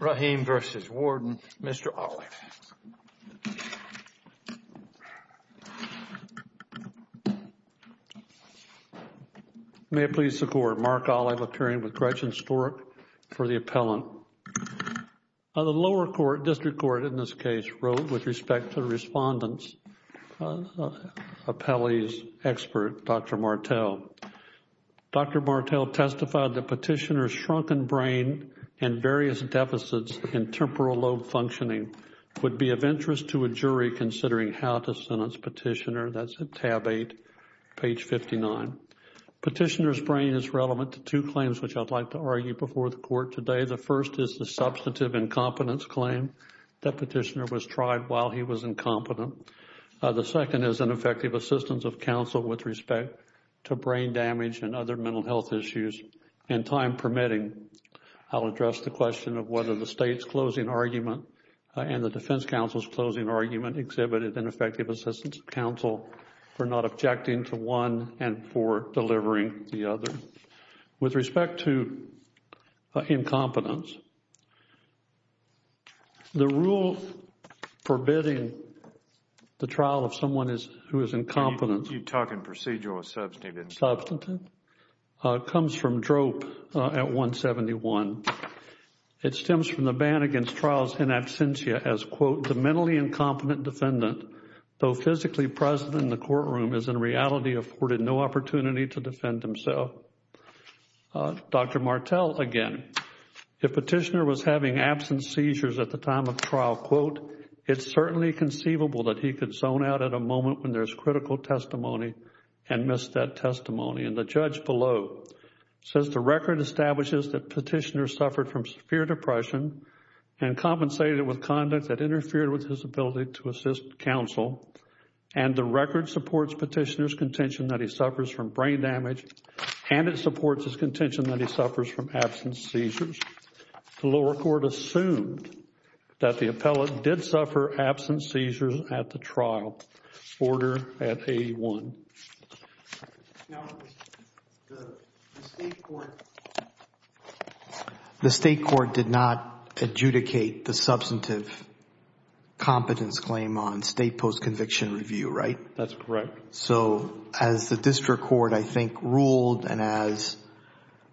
Raheem v. Warden Mr. Olive May it please the Court, Mark Olive appearing with Gretchen Stork for the Appellant. The lower court, District Court in this case, wrote with respect to the Respondent's Appellee's Dr. Martel. Dr. Martel testified that Petitioner's shrunken brain and various deficits in temporal lobe functioning would be of interest to a jury considering how to sentence Petitioner. That's at tab 8, page 59. Petitioner's brain is relevant to two claims which I'd like to argue before the Court today. The first is the substantive incompetence claim that Petitioner was tried while he was incompetent. The second is an effective assistance of counsel with respect to brain damage and other mental health issues and time permitting. I'll address the question of whether the State's closing argument and the Defense Counsel's closing argument exhibited an effective assistance of counsel for not objecting to one and for delivering the other. With respect to incompetence, the rule forbidding the trial of someone who is incompetent. You're talking procedural, substantive. Substantive. It comes from DROP at 171. It stems from the ban against trials in absentia as, quote, the mentally incompetent defendant, though physically present in the courtroom, is in reality afforded no opportunity to defend himself. Dr. Martell, again, if Petitioner was having absent seizures at the time of trial, quote, it's certainly conceivable that he could zone out at a moment when there's critical testimony and miss that testimony. And the judge below says the record establishes that Petitioner suffered from severe depression and compensated with conduct that interfered with his ability to that he suffers from brain damage, and it supports his contention that he suffers from absent seizures. The lower court assumed that the appellate did suffer absent seizures at the trial. Order at 81. Now, the state court did not adjudicate the substantive competence claim on state post-conviction review, right? That's correct. So as the district court, I think, ruled, and as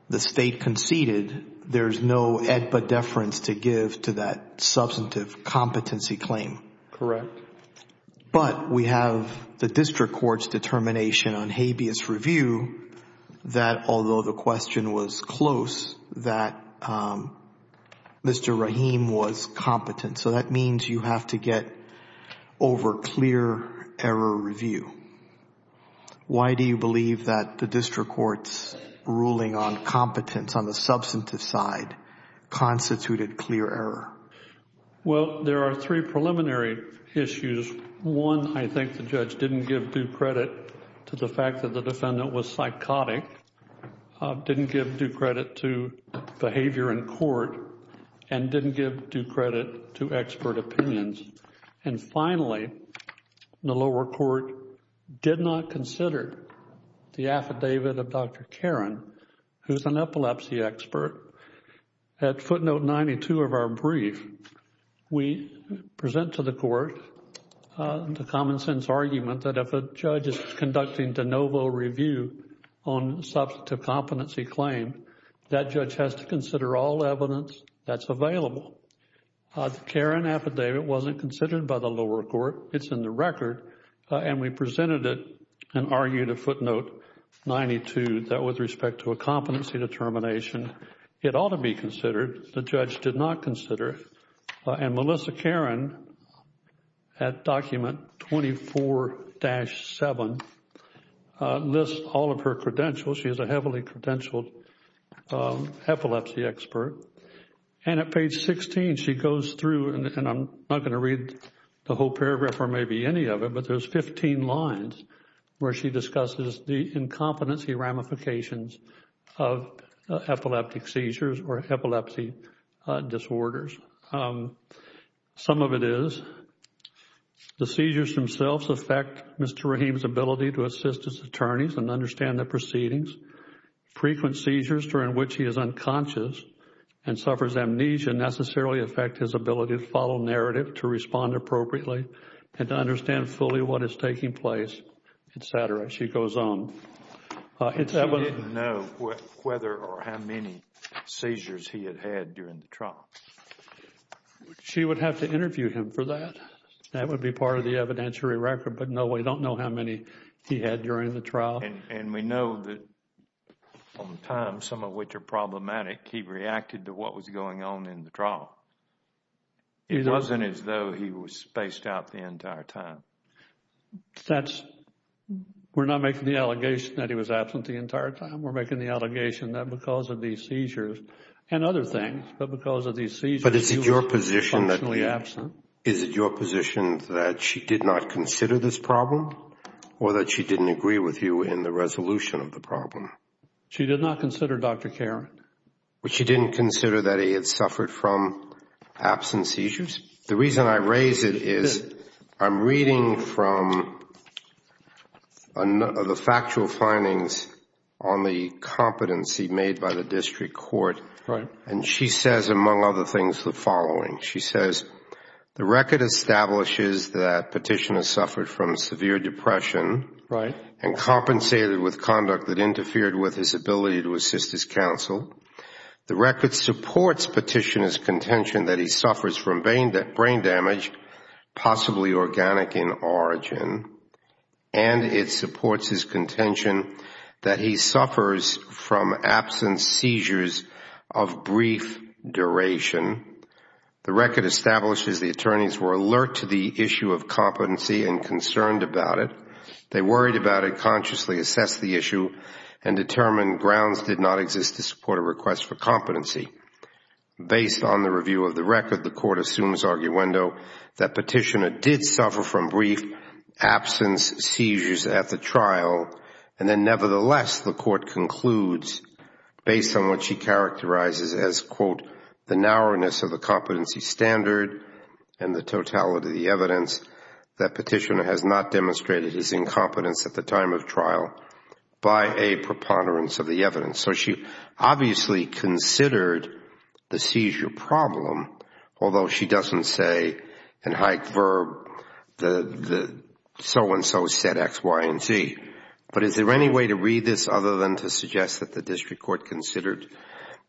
the state conceded, there's no epidefference to give to that substantive competency claim. Correct. But we have the district court's determination on habeas review that although the question was review, why do you believe that the district court's ruling on competence on the substantive side constituted clear error? Well, there are three preliminary issues. One, I think the judge didn't give due credit to the fact that the defendant was psychotic, didn't give due credit to behavior in court, and didn't give due credit to expert opinions. And finally, the lower court did not consider the affidavit of Dr. Karen, who's an epilepsy expert. At footnote 92 of our brief, we present to the court the common sense argument that if a judge is conducting de novo review on substantive competency claim, that judge has to consider all evidence that's available. Karen affidavit wasn't considered by the lower court. It's in the record. And we presented it and argued at footnote 92 that with respect to a competency determination, it ought to be considered. The judge did not consider. And Melissa Karen, at document 24-7, lists all of her credentials. She is a heavily credentialed epilepsy expert. And at page 16, she goes through, and I'm not going to read the whole paragraph or maybe any of it, but there's 15 lines where she discusses the incompetency ramifications of epileptic seizures or epilepsy disorders. Some of it is the seizures themselves affect Mr. Rahim's ability to assist his attorneys and understand the proceedings. Frequent seizures during which he is unconscious and suffers amnesia necessarily affect his ability to follow narrative, to respond appropriately, and to understand fully what is taking place, etc. She goes on. She didn't know whether or how many seizures he had had during the trial. She would have to interview him for that. That would be part of the evidentiary record. But no, we don't know how many he had during the trial. And we know that on time, some of which are problematic, he reacted to what was going on in the trial. It wasn't as though he was spaced out the entire time. That's, we're not making the allegation that he was absent the entire time. We're making the allegation that because of these seizures and other things, but because of these seizures, he was functionally absent. Is it your position that she did not consider this problem or that she didn't agree with you in the resolution of the problem? She did not consider, Dr. Karan. She didn't consider that he had suffered from absence seizures? The reason I raise it is I'm reading from the factual findings on the competency made by the district court. She says, among other things, the following. She says, the record establishes that Petitioner suffered from severe depression and compensated with conduct that interfered with his ability to assist his counsel. The record supports Petitioner's contention that he suffers from brain damage, possibly organic in origin. And it supports his contention that he suffers from absence seizures of brief duration. The record establishes the attorneys were alert to the issue of competency and concerned about it. They worried about it, consciously assessed the issue, and determined grounds did not exist to support a request for competency. Based on the review of the record, the court assumes arguendo that Petitioner did suffer from brief absence seizures at the trial. And then nevertheless, the court concludes, based on what she characterizes as, quote, narrowness of the competency standard and the totality of the evidence, that Petitioner has not demonstrated his incompetence at the time of trial by a preponderance of the evidence. So she obviously considered the seizure problem, although she doesn't say in high verb, so-and-so said x, y, and z. But is there any way to read this other than to suggest that the district court considered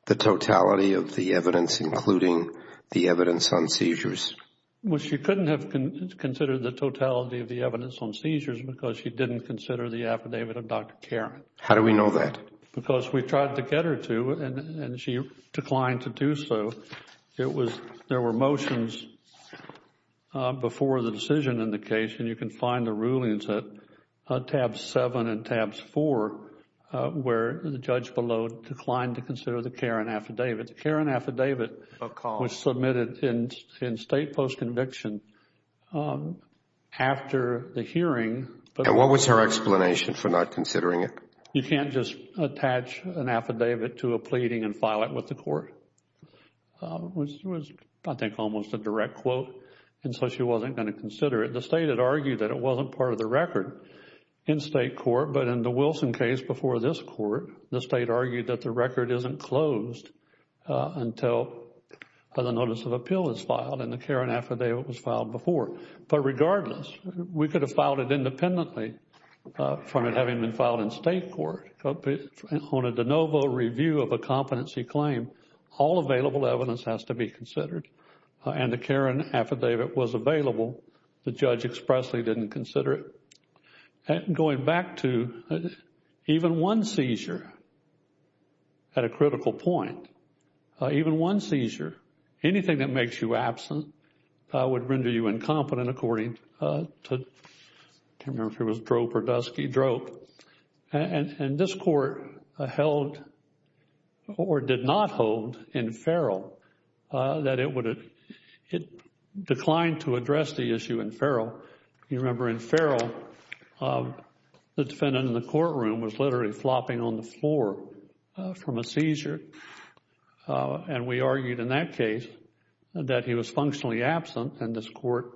the totality of the evidence, including the evidence on seizures? Well, she couldn't have considered the totality of the evidence on seizures because she didn't consider the affidavit of Dr. Karen. How do we know that? Because we tried to get her to, and she declined to do so. It was, there were motions before the decision in the case, and you can find the rulings at tabs 7 and tabs 4, where the judge below declined to consider the Karen affidavit. The Karen affidavit was submitted in state post-conviction after the hearing. And what was her explanation for not considering it? You can't just attach an affidavit to a pleading and file it with the court, which was, I think, almost a direct quote. And so she wasn't going to consider it. The state had argued that it wasn't part of the record in state court. But in the Wilson case before this court, the state argued that the record isn't closed until the notice of appeal is filed and the Karen affidavit was filed before. But regardless, we could have filed it independently from it having been filed in state court. On a de novo review of a competency claim, all available evidence has to be considered and the Karen affidavit was available. The judge expressly didn't consider it. Going back to even one seizure at a critical point, even one seizure, anything that makes you absent would render you incompetent according to, I can't remember if it was DROPE or Dusky, DROPE. And this court held or did not hold in Farrell that it declined to address the issue in Farrell. You remember in Farrell, the defendant in the courtroom was literally flopping on the floor from a seizure. And we argued in that case that he was functionally absent. And this court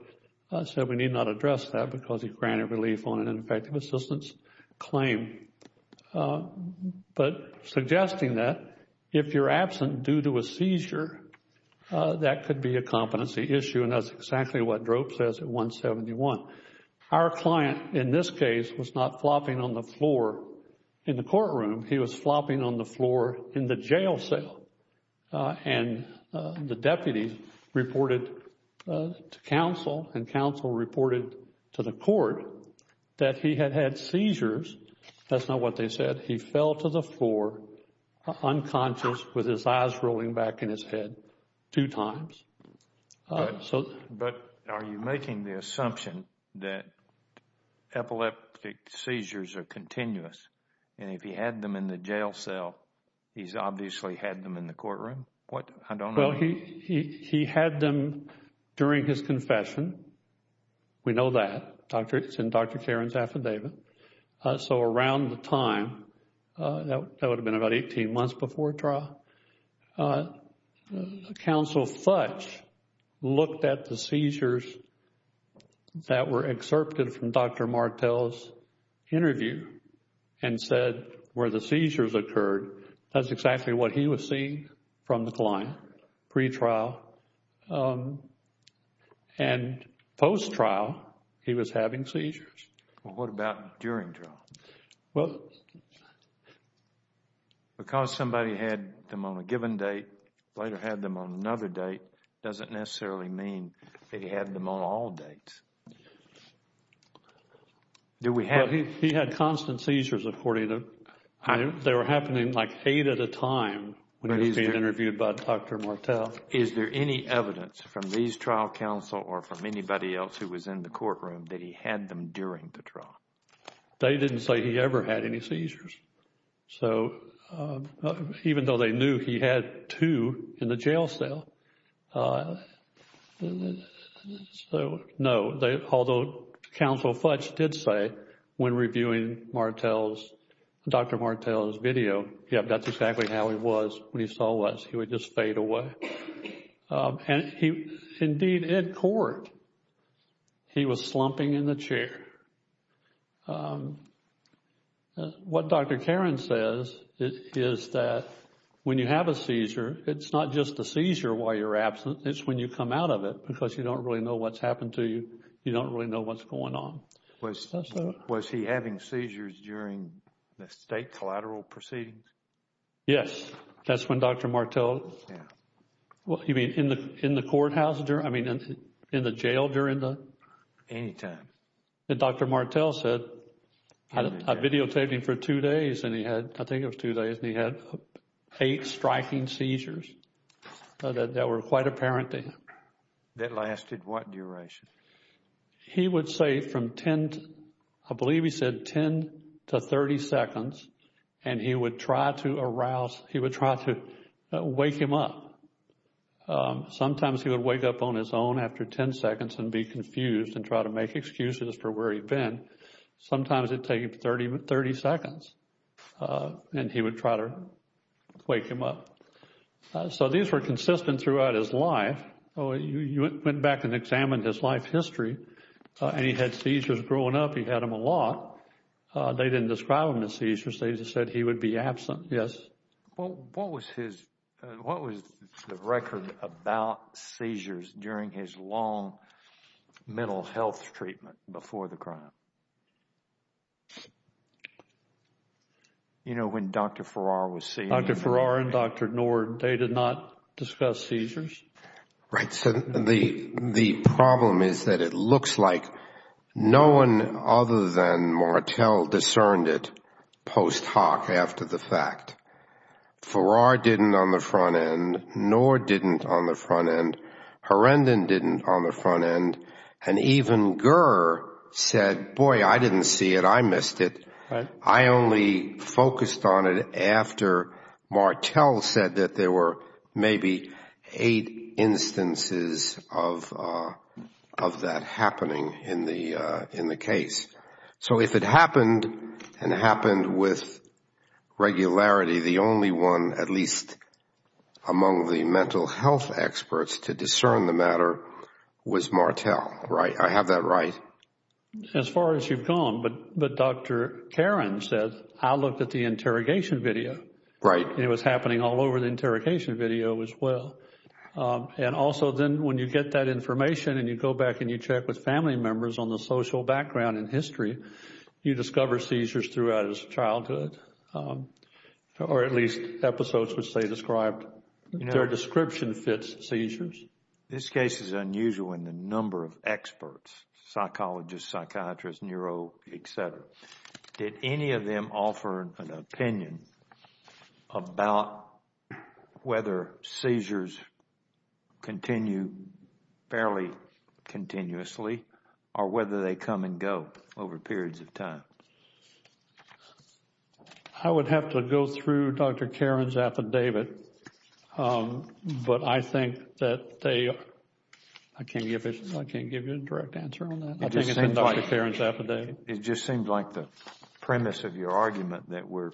said we need not address that because he granted relief on an effective assistance claim. But suggesting that if you're absent due to a seizure, that could be a competency issue. And that's exactly what DROPE says at 171. Our client in this case was not flopping on the floor in the courtroom. He was flopping on the floor in the jail cell. And the deputy reported to counsel and counsel reported to the court that he had had seizures. That's not what they said. He fell to the floor unconscious with his eyes rolling back in his head two times. But are you making the assumption that epileptic seizures are continuous? And if he had them in the jail cell, he's obviously had them in the courtroom? What? I don't know. Well, he had them during his confession. We know that. It's in Dr. Caron's affidavit. So around the time, that would have been about 18 months before trial, counsel Futch looked at the seizures that were excerpted from Dr. Martel's interview. And said where the seizures occurred, that's exactly what he was seeing from the client pre-trial and post-trial, he was having seizures. Well, what about during trial? Well. Because somebody had them on a given date, later had them on another date, doesn't necessarily mean that he had them on all dates. Do we have... But he had constant seizures, according to... They were happening like eight at a time when he was being interviewed by Dr. Martel. Is there any evidence from these trial counsel or from anybody else who was in the courtroom that he had them during the trial? They didn't say he ever had any seizures. So even though they knew he had two in the jail cell, uh, so no, although counsel Futch did say when reviewing Dr. Martel's video, yep, that's exactly how he was when he saw us. He would just fade away. And indeed in court, he was slumping in the chair. What Dr. Karen says is that when you have a seizure, it's not just a seizure while you're absent. It's when you come out of it because you don't really know what's happened to you. You don't really know what's going on. Was he having seizures during the state collateral proceedings? Yes. That's when Dr. Martel... Yeah. Well, you mean in the courthouse during... I mean, in the jail during the... Anytime. That Dr. Martel said, I videotaped him for two days and he had, I think it was two days and he had eight striking seizures that were quite apparent to him. That lasted what duration? He would say from 10, I believe he said 10 to 30 seconds and he would try to arouse, he would try to wake him up. Sometimes he would wake up on his own after 10 seconds and be confused and try to make excuses for where he'd been. Sometimes it'd take him 30 seconds and he would try to wake him up. So these were consistent throughout his life. Oh, you went back and examined his life history and he had seizures growing up. He had them a lot. They didn't describe them as seizures. They just said he would be absent. Yes. Well, what was his, what was the record about seizures during his long mental health treatment before the crime? You know, when Dr. Farrar was seeing him. Dr. Farrar and Dr. Nord, they did not discuss seizures. Right. So the problem is that it looks like no one other than Martel discerned it post hoc after the fact. Farrar didn't on the front end, Nord didn't on the front end, Herendon didn't on the front end, and even Gurr said, boy, I didn't see it. I missed it. I only focused on it after Martel said that there were maybe eight instances of that happening in the case. So if it happened and happened with regularity, the only one, at least among the mental health experts to discern the matter was Martel. Right. I have that right. As far as you've gone. But Dr. Karen said, I looked at the interrogation video. Right. It was happening all over the interrogation video as well. And also then when you get that information and you go back and you check with family members on the social background and history, you discover seizures throughout his childhood or at least episodes which they described, their description fits seizures. This case is unusual in the number of experts, psychologists, psychiatrists, neuro, et cetera. Did any of them offer an opinion about whether seizures continue fairly continuously or whether they come and go over periods of time? I would have to go through Dr. Karen's affidavit. But I think that they, I can't give you a direct answer on that. I think it's in Dr. Karen's affidavit. It just seemed like the premise of your argument that we're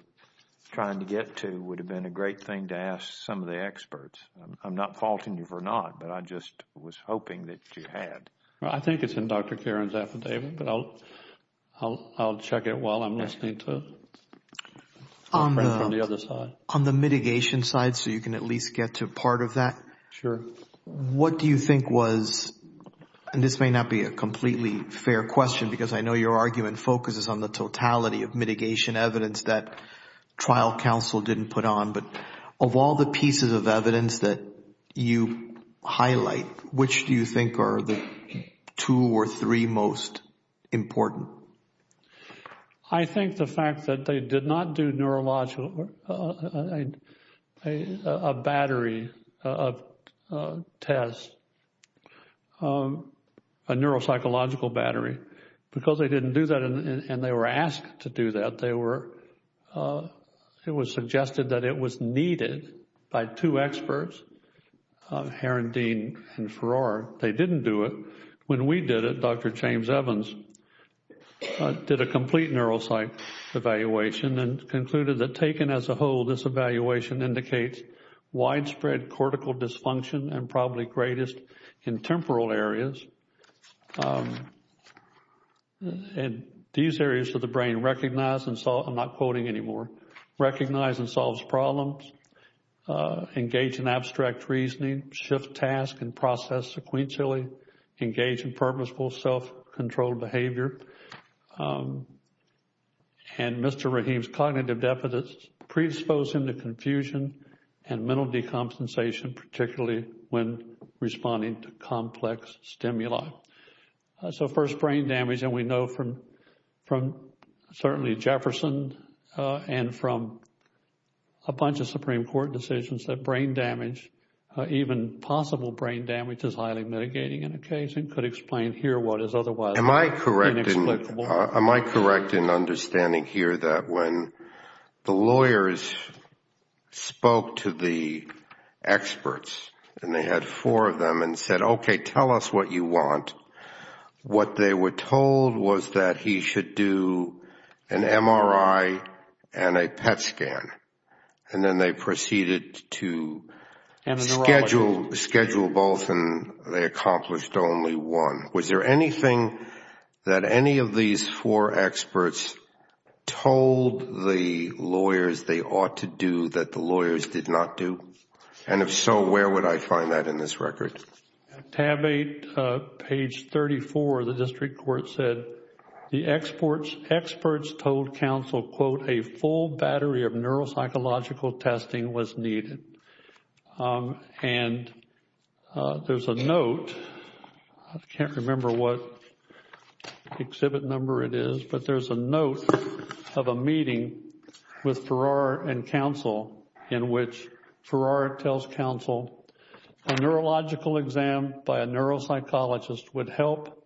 trying to get to would have been a great thing to ask some of the experts. I'm not faulting you for not, but I just was hoping that you had. I think it's in Dr. Karen's affidavit, but I'll check it while I'm listening to the other side. On the mitigation side, so you can at least get to part of that. Sure. What do you think was, and this may not be a completely fair question because I know your argument focuses on the totality of mitigation evidence that trial counsel didn't put on, but of all the pieces of evidence that you highlight, which do you think are the two or three most important? I think the fact that they did not do a neuropsychological battery test, because they didn't do that and they were asked to do that, it was suggested that it was needed by two experts, Heron, Dean, and Farrar. They didn't do it. When we did it, Dr. James Evans did a complete neuropsych evaluation and concluded that taken as a whole, this evaluation indicates widespread cortical dysfunction and probably greatest in temporal areas. And these areas of the brain recognize and solve, I'm not quoting anymore, recognize and solves problems, engage in abstract reasoning, shift task and process sequentially, engage in purposeful self-controlled behavior. And Mr. Rahim's cognitive deficits predispose him to confusion and mental decompensation, particularly when responding to complex stimuli. So first brain damage, and we know from certainly Jefferson and from a bunch of Supreme Court decisions that brain damage, even possible brain damage is highly mitigating in a case and could explain here what is otherwise inexplicable. Am I correct in understanding here that when the lawyers spoke to the experts and they had four of them and said, okay, tell us what you want, what they were told was that he should do an MRI and a PET scan and then they proceeded to schedule both and they accomplished only one. Was there anything that any of these four experts told the lawyers they ought to do that the lawyers did not do? And if so, where would I find that in this record? At tab eight, page 34, the district court said the experts told counsel, quote, a full battery of neuropsychological testing was needed. And there's a note, I can't remember what exhibit number it is, but there's a note of a meeting with Farrar and counsel in which Farrar tells counsel a neurological exam by a neuropsychologist would help.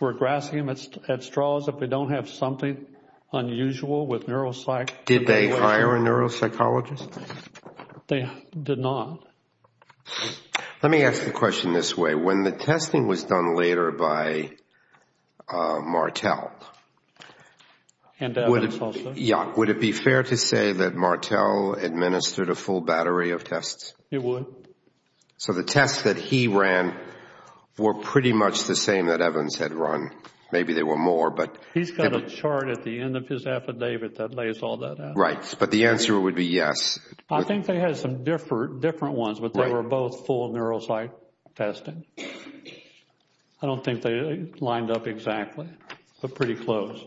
We're grasping at straws if we don't have something unusual with neuropsych. Did they hire a neuropsychologist? They did not. Let me ask the question this way. When the testing was done later by Martell, would it be fair to say that Martell administered a full battery of tests? It would. So the tests that he ran were pretty much the same that Evans had run. Maybe there were more. But he's got a chart at the end of his affidavit that lays all that out. Right. But the answer would be yes. I think they had some different ones, but they were both full neuropsych testing. I don't think they lined up exactly, but pretty close.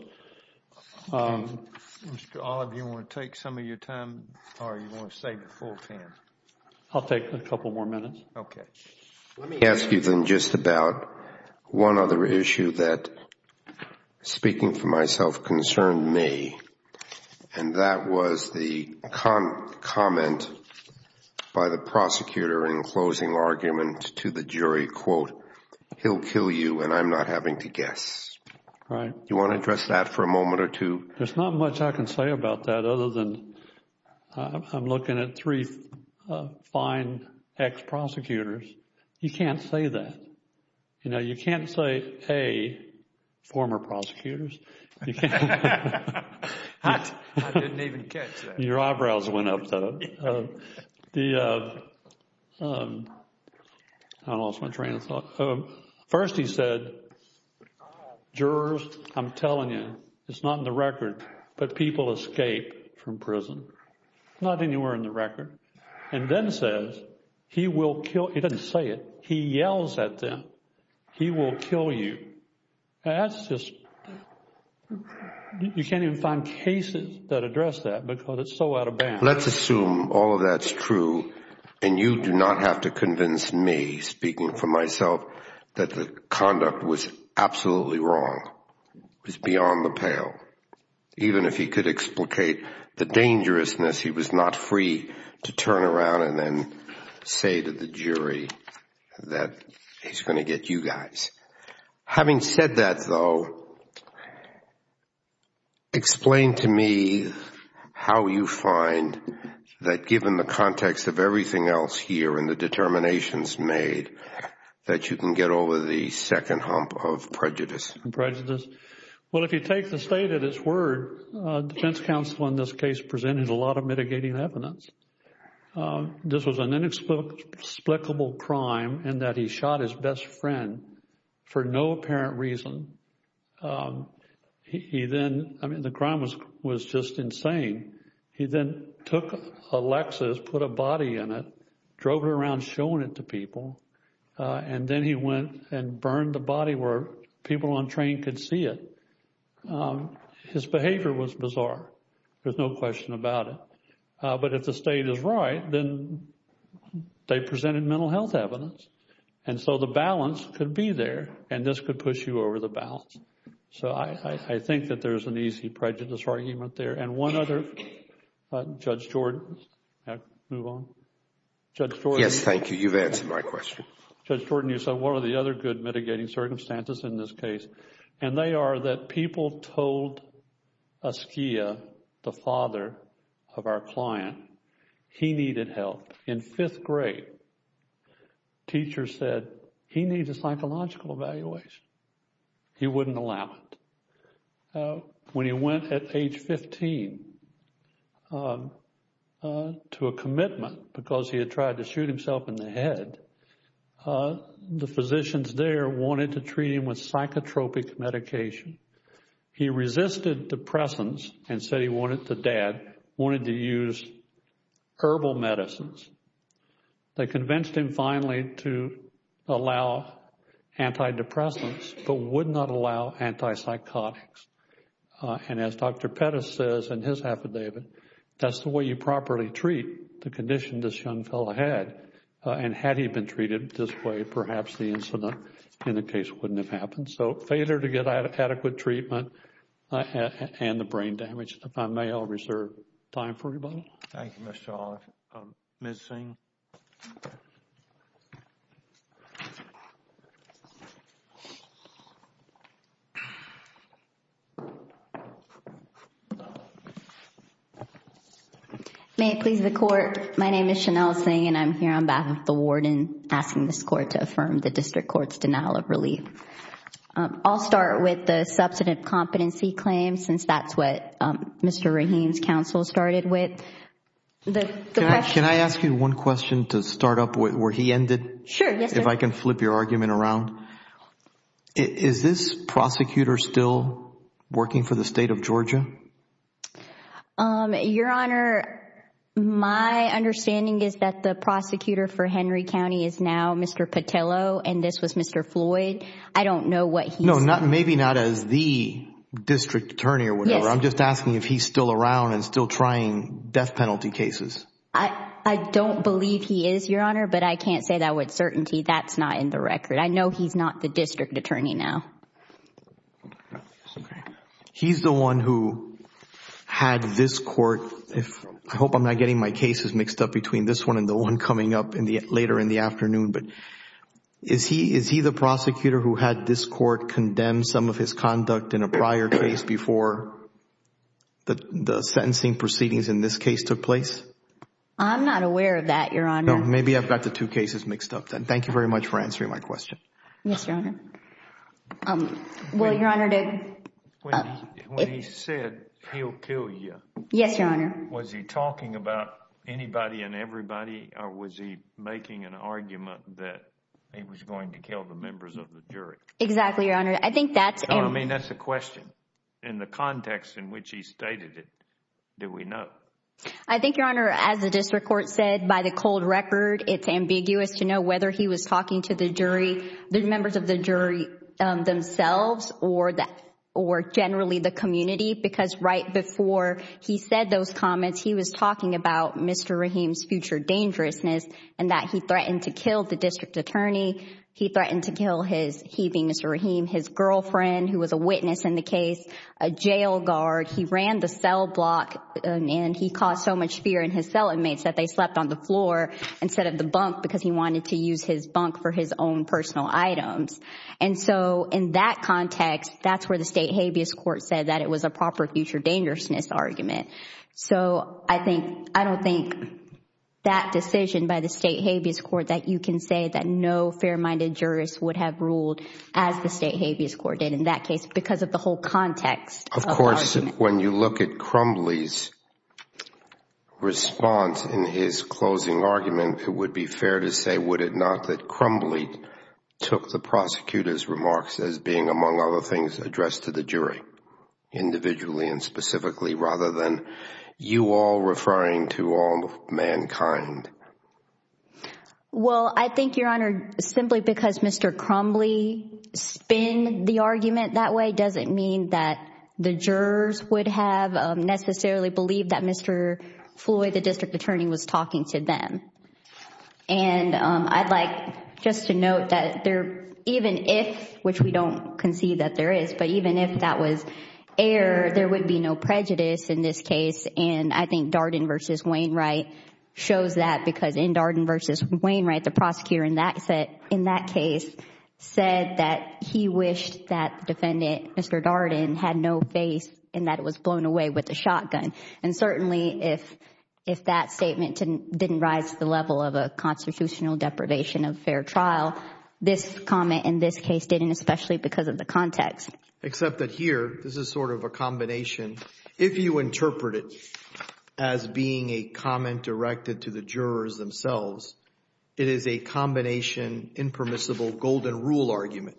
Mr. Olive, do you want to take some of your time or you want to save the full time? I'll take a couple more minutes. Okay. Let me ask you then just about one other issue that, speaking for myself, concerned me. And that was the comment by the prosecutor in closing argument to the jury, quote, he'll kill you and I'm not having to guess. Right. Do you want to address that for a moment or two? There's not much I can say about that other than I'm looking at three fine ex-prosecutors. You can't say that. You know, you can't say, A, former prosecutors. I didn't even catch that. Your eyebrows went up, though. The, I lost my train of thought. First, he said, jurors, I'm telling you, it's not in the record, but people escape from prison. Not anywhere in the record. And then says, he will kill, he doesn't say it. He yells at them. He will kill you. That's just, you can't even find cases that address that because it's so out of bounds. Let's assume all of that's true and you do not have to convince me, speaking for myself, that the conduct was absolutely wrong. It was beyond the pale. Even if he could explicate the dangerousness, he was not free to turn around and then say to the jury that he's going to get you guys. Having said that, though, explain to me how you find that, given the context of everything else here and the determinations made, that you can get over the second hump of prejudice. Prejudice. Well, if you take the state at its word, defense counsel, in this case, presented a lot of mitigating evidence. This was an inexplicable crime in that he shot his best friend for no apparent reason. He then, I mean, the crime was just insane. He then took a Lexus, put a body in it, drove it around showing it to people. And then he went and burned the body where people on train could see it. His behavior was bizarre. There's no question about it. But if the state is right, then they presented mental health evidence. And so the balance could be there and this could push you over the balance. So I think that there's an easy prejudice argument there. And one other, Judge Jordan, move on. Judge Jordan. Yes, thank you. You've answered my question. Judge Jordan, you said, what are the other good mitigating circumstances in this case? And they are that people told Askia, the father of our client, he needed help. In fifth grade, teacher said, he needs a psychological evaluation. He wouldn't allow it. When he went at age 15 to a commitment because he had tried to shoot himself in the head, the physicians there wanted to treat him with psychotropic medication. He resisted depressants and said he wanted to dad wanted to use herbal medicines. They convinced him finally to allow antidepressants, but would not allow antipsychotics. And as Dr. Pettis says in his affidavit, that's the way you properly treat the condition this young fellow had. And had he been treated this way, perhaps the incident in the case wouldn't have happened. So failure to get adequate treatment and the brain damage. If I may, I'll reserve time for rebuttal. Thank you, Mr. Hall. May it please the Court. My name is Chanel Singh and I'm here on behalf of the warden asking this court to affirm the district court's denial of relief. I'll start with the substantive competency claim, since that's what Mr. Rahim's counsel started with. Can I ask you one question to start up where he ended? Sure. If I can flip your argument around. Is this prosecutor still working for the state of Georgia? Your Honor, my understanding is that the prosecutor for Henry County is now Mr. Petillo and this was Mr. Floyd. I don't know what he's... No, maybe not as the district attorney or whatever. I'm just asking if he's still around and still trying death penalty cases. I don't believe he is, Your Honor, but I can't say that with certainty. That's not in the record. I know he's not the district attorney now. No, it's okay. He's the one who had this court... I hope I'm not getting my cases mixed up between this one and the one coming up later in the afternoon, but is he the prosecutor who had this court condemned some of his conduct in a prior case before the sentencing proceedings in this case took place? I'm not aware of that, Your Honor. Maybe I've got the two cases mixed up then. Thank you very much for answering my question. Yes, Your Honor. Well, Your Honor, to... When he said he'll kill you... Yes, Your Honor. Was he talking about anybody and everybody or was he making an argument that he was going to kill the members of the jury? Exactly, Your Honor. I think that's... I mean, that's a question. In the context in which he stated it, do we know? I think, Your Honor, as the district court said, by the cold record, it's ambiguous to or generally the community because right before he said those comments, he was talking about Mr. Rahim's future dangerousness and that he threatened to kill the district attorney. He threatened to kill his, he being Mr. Rahim, his girlfriend who was a witness in the case, a jail guard. He ran the cell block and he caused so much fear in his cell inmates that they slept on the floor instead of the bunk because he wanted to use his bunk for his own personal items. And so in that context, that's where the state habeas court said that it was a proper future dangerousness argument. So I think, I don't think that decision by the state habeas court that you can say that no fair-minded jurist would have ruled as the state habeas court did in that case because of the whole context. Of course, when you look at Crumbly's response in his closing argument, it would be fair to say, would it not, that Crumbly took the prosecutor's remarks as being, among other things, addressed to the jury individually and specifically rather than you all referring to all mankind. Well, I think, Your Honor, simply because Mr. Crumbly spin the argument that way doesn't mean that the jurors would have necessarily believed that Mr. Floyd, the district attorney, was talking to them. And I'd like just to note that there, even if, which we don't concede that there is, but even if that was air, there would be no prejudice in this case. And I think Darden versus Wainwright shows that because in Darden versus Wainwright, the prosecutor in that case said that he wished that defendant, Mr. Darden, had no face and that it was blown away with a shotgun. And certainly if that statement didn't rise to the level of a constitutional deprivation of fair trial, this comment in this case didn't, especially because of the context. Except that here, this is sort of a combination. If you interpret it as being a comment directed to the jurors themselves, it is a combination impermissible golden rule argument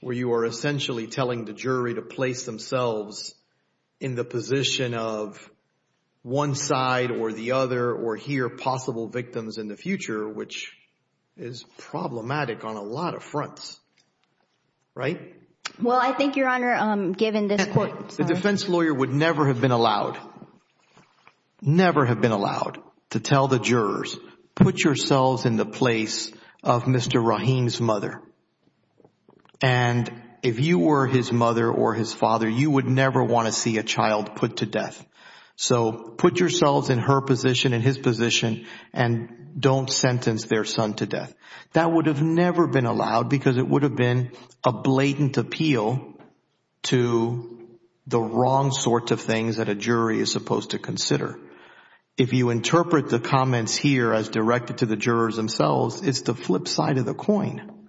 where you are essentially telling the jury to place themselves in the position of one side or the other or hear possible victims in the future, which is problematic on a lot of fronts, right? Well, I think, Your Honor, given this court... The defense lawyer would never have been allowed, never have been allowed to tell the jurors, put yourselves in the place of Mr. Rahim's mother. And if you were his mother or his father, you would never want to see a child put to death. So put yourselves in her position, in his position, and don't sentence their son to death. That would have never been allowed because it would have been a blatant appeal to the wrong sorts of things that a jury is supposed to consider. If you interpret the comments here as directed to the jurors themselves, it's the flip side of the coin.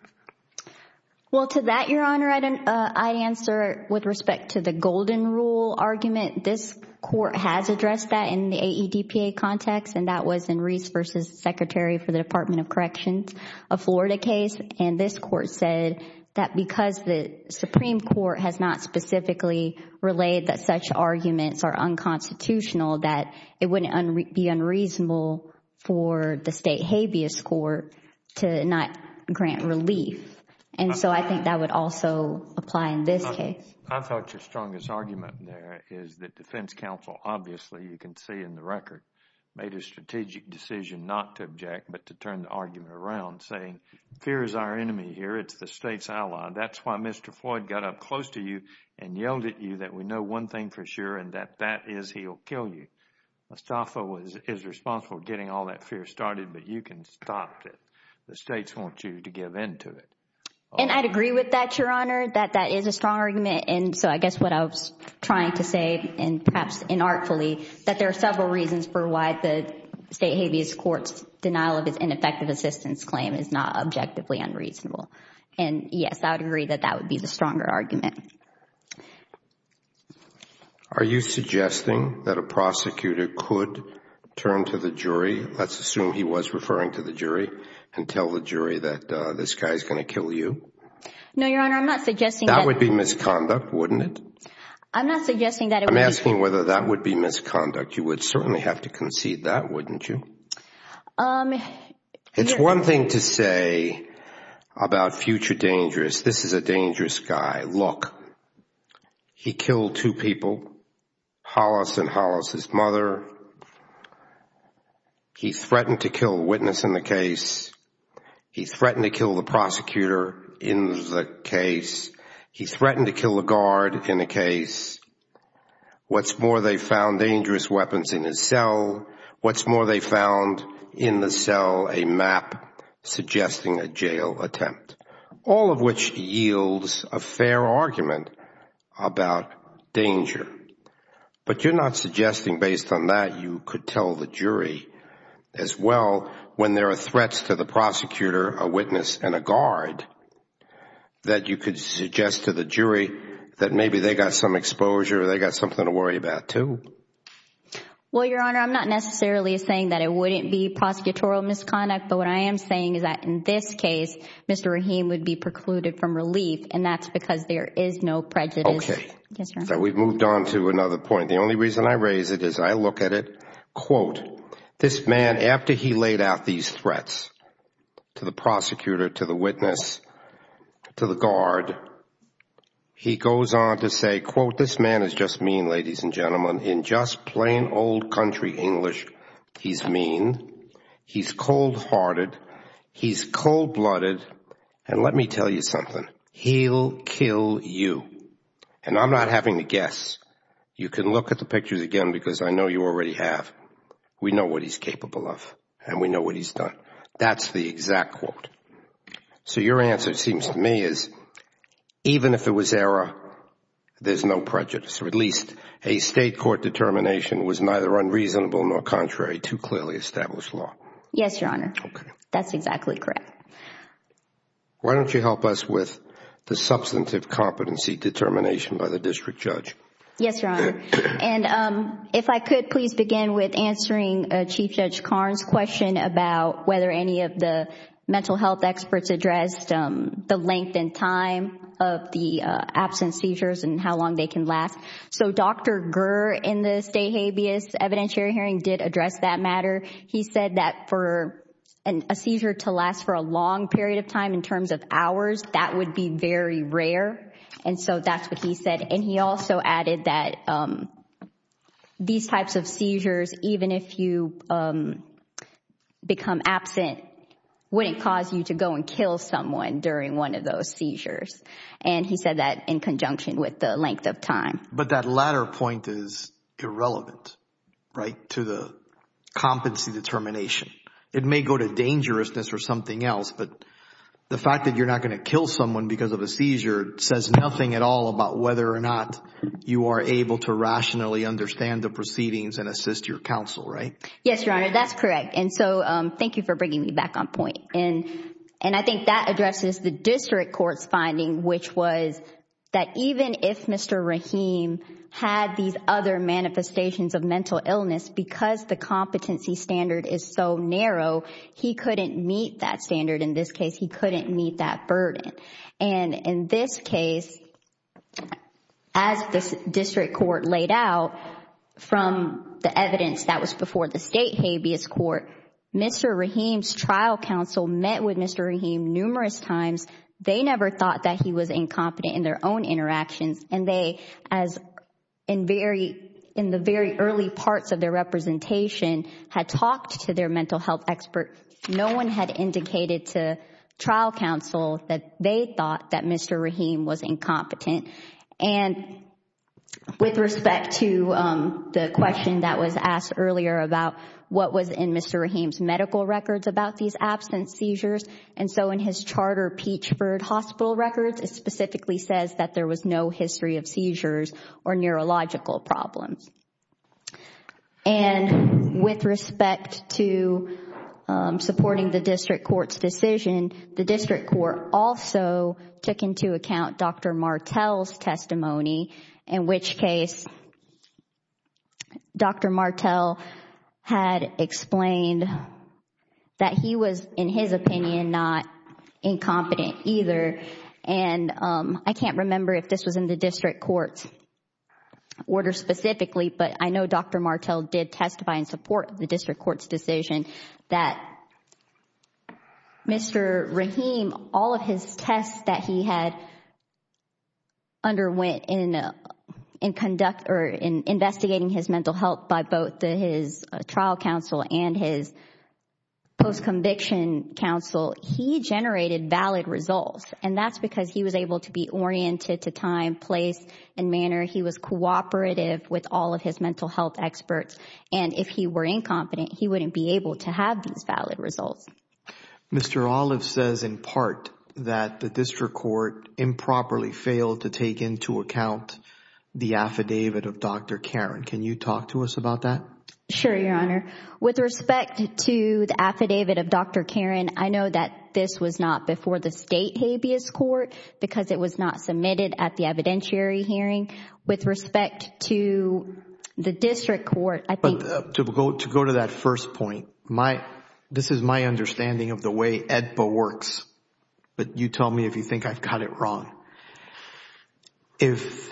Well, to that, Your Honor, I'd answer with respect to the golden rule argument. This court has addressed that in the AEDPA context, and that was in Reese v. Secretary for the Department of Corrections, a Florida case. And this court said that because the Supreme Court has not specifically relayed that such arguments are unconstitutional, that it wouldn't be unreasonable for the state habeas court to not grant relief. And so I think that would also apply in this case. I thought your strongest argument there is that defense counsel obviously, you can see in the record, made a strategic decision not to object but to turn the argument around saying fear is our enemy here. It's the state's ally. That's why Mr. Floyd got up close to you and yelled at you that we know one thing for sure and that that is he'll kill you. Mustafa is responsible for getting all that fear started, but you can stop it. The states want you to give in to it. And I'd agree with that, Your Honor, that that is a strong argument. And so I guess what I was trying to say, and perhaps inartfully, that there are several reasons for why the state habeas court's denial of its ineffective assistance claim is not objectively unreasonable. And yes, I would agree that that would be the stronger argument. Are you suggesting that a prosecutor could turn to the jury, let's assume he was referring to the jury, and tell the jury that this guy is going to kill you? No, Your Honor, I'm not suggesting that. That would be misconduct, wouldn't it? I'm not suggesting that. I'm asking whether that would be misconduct. You would certainly have to concede that, wouldn't you? It's one thing to say about future dangerous, this is a dangerous guy. Look, he killed two people, Hollis and Hollis' mother. He threatened to kill a witness in the case. He threatened to kill the prosecutor in the case. He threatened to kill a guard in the case. What's more, they found dangerous weapons in his cell. What's more, they found in the cell a map suggesting a jail attempt. All of which yields a fair argument about danger. But you're not suggesting, based on that, you could tell the jury as well, when there are threats to the prosecutor, a witness, and a guard, that you could suggest to the jury that maybe they got some exposure or they got something to worry about too? Well, Your Honor, I'm not necessarily saying that it wouldn't be prosecutorial misconduct. But what I am saying is that in this case, Mr. Rahim would be precluded from relief. And that's because there is no prejudice. Okay. We've moved on to another point. The only reason I raise it is I look at it, quote, this man, after he laid out these threats to the prosecutor, to the witness, to the guard, he goes on to say, quote, this man is just mean, ladies and gentlemen. In just plain old country English, he's mean. He's cold hearted. He's cold blooded. And let me tell you something, he'll kill you. And I'm not having to guess. You can look at the pictures again because I know you already have. We know what he's capable of. And we know what he's done. That's the exact quote. So your answer, it seems to me, is even if it was error, there's no prejudice. Or at least a state court determination was neither unreasonable nor contrary. Too clearly established law. Yes, Your Honor. That's exactly correct. Why don't you help us with the substantive competency determination by the district judge? Yes, Your Honor. And if I could, please begin with answering Chief Judge Karn's question about whether any of the mental health experts addressed the length and time of the absence seizures and how long they can last. So Dr. Gur in the state habeas evidentiary hearing did address that matter. He said that for a seizure to last for a long period of time in terms of hours, that would be very rare. And so that's what he said. And he also added that these types of seizures, even if you become absent, wouldn't cause you to go and kill someone during one of those seizures. And he said that in conjunction with the length of time. But that latter point is irrelevant, right, to the competency determination. It may go to dangerousness or something else. But the fact that you're not going to kill someone because of a seizure says nothing at all about whether or not you are able to rationally understand the proceedings and assist your counsel, right? Yes, Your Honor. That's correct. And so thank you for bringing me back on point. And I think that addresses the district court's finding, which was that even if Mr. Rahim had these other manifestations of mental illness, because the competency standard is so narrow, he couldn't meet that standard. In this case, he couldn't meet that burden. And in this case, as the district court laid out from the evidence that was before the state habeas court, Mr. Rahim's trial counsel met with Mr. Rahim numerous times. They never thought that he was incompetent in their own interactions. And they, in the very early parts of their representation, had talked to their mental health expert. No one had indicated to trial counsel that they thought that Mr. Rahim was incompetent. And with respect to the question that was asked earlier about what was in Mr. Rahim's medical records about these absence seizures, and so in his charter, Peachford Hospital records, it specifically says that there was no history of seizures or neurological problems. And with respect to supporting the district court's decision, the district court also took into account Dr. Martel's testimony, in which case Dr. Martel had explained that he was, in his opinion, not incompetent either. And I can't remember if this was in the district court's order specifically, but I know Dr. Martel did testify in support of the district court's decision that Mr. Rahim, all of his tests that he had underwent in investigating his mental health by both his trial counsel and his post-conviction counsel, he generated valid results. And that's because he was able to be oriented to time, place, and manner. He was cooperative with all of his mental health experts. And if he were incompetent, he wouldn't be able to have these valid results. Mr. Olive says in part that the district court improperly failed to take into account the affidavit of Dr. Karen. Can you talk to us about that? Sure, Your Honor. With respect to the affidavit of Dr. Karen, I know that this was not before the state habeas court because it was not submitted at the evidentiary hearing. With respect to the district court, I think... But to go to that first point, this is my understanding of the way AEDPA works. But you tell me if you think I've got it wrong. If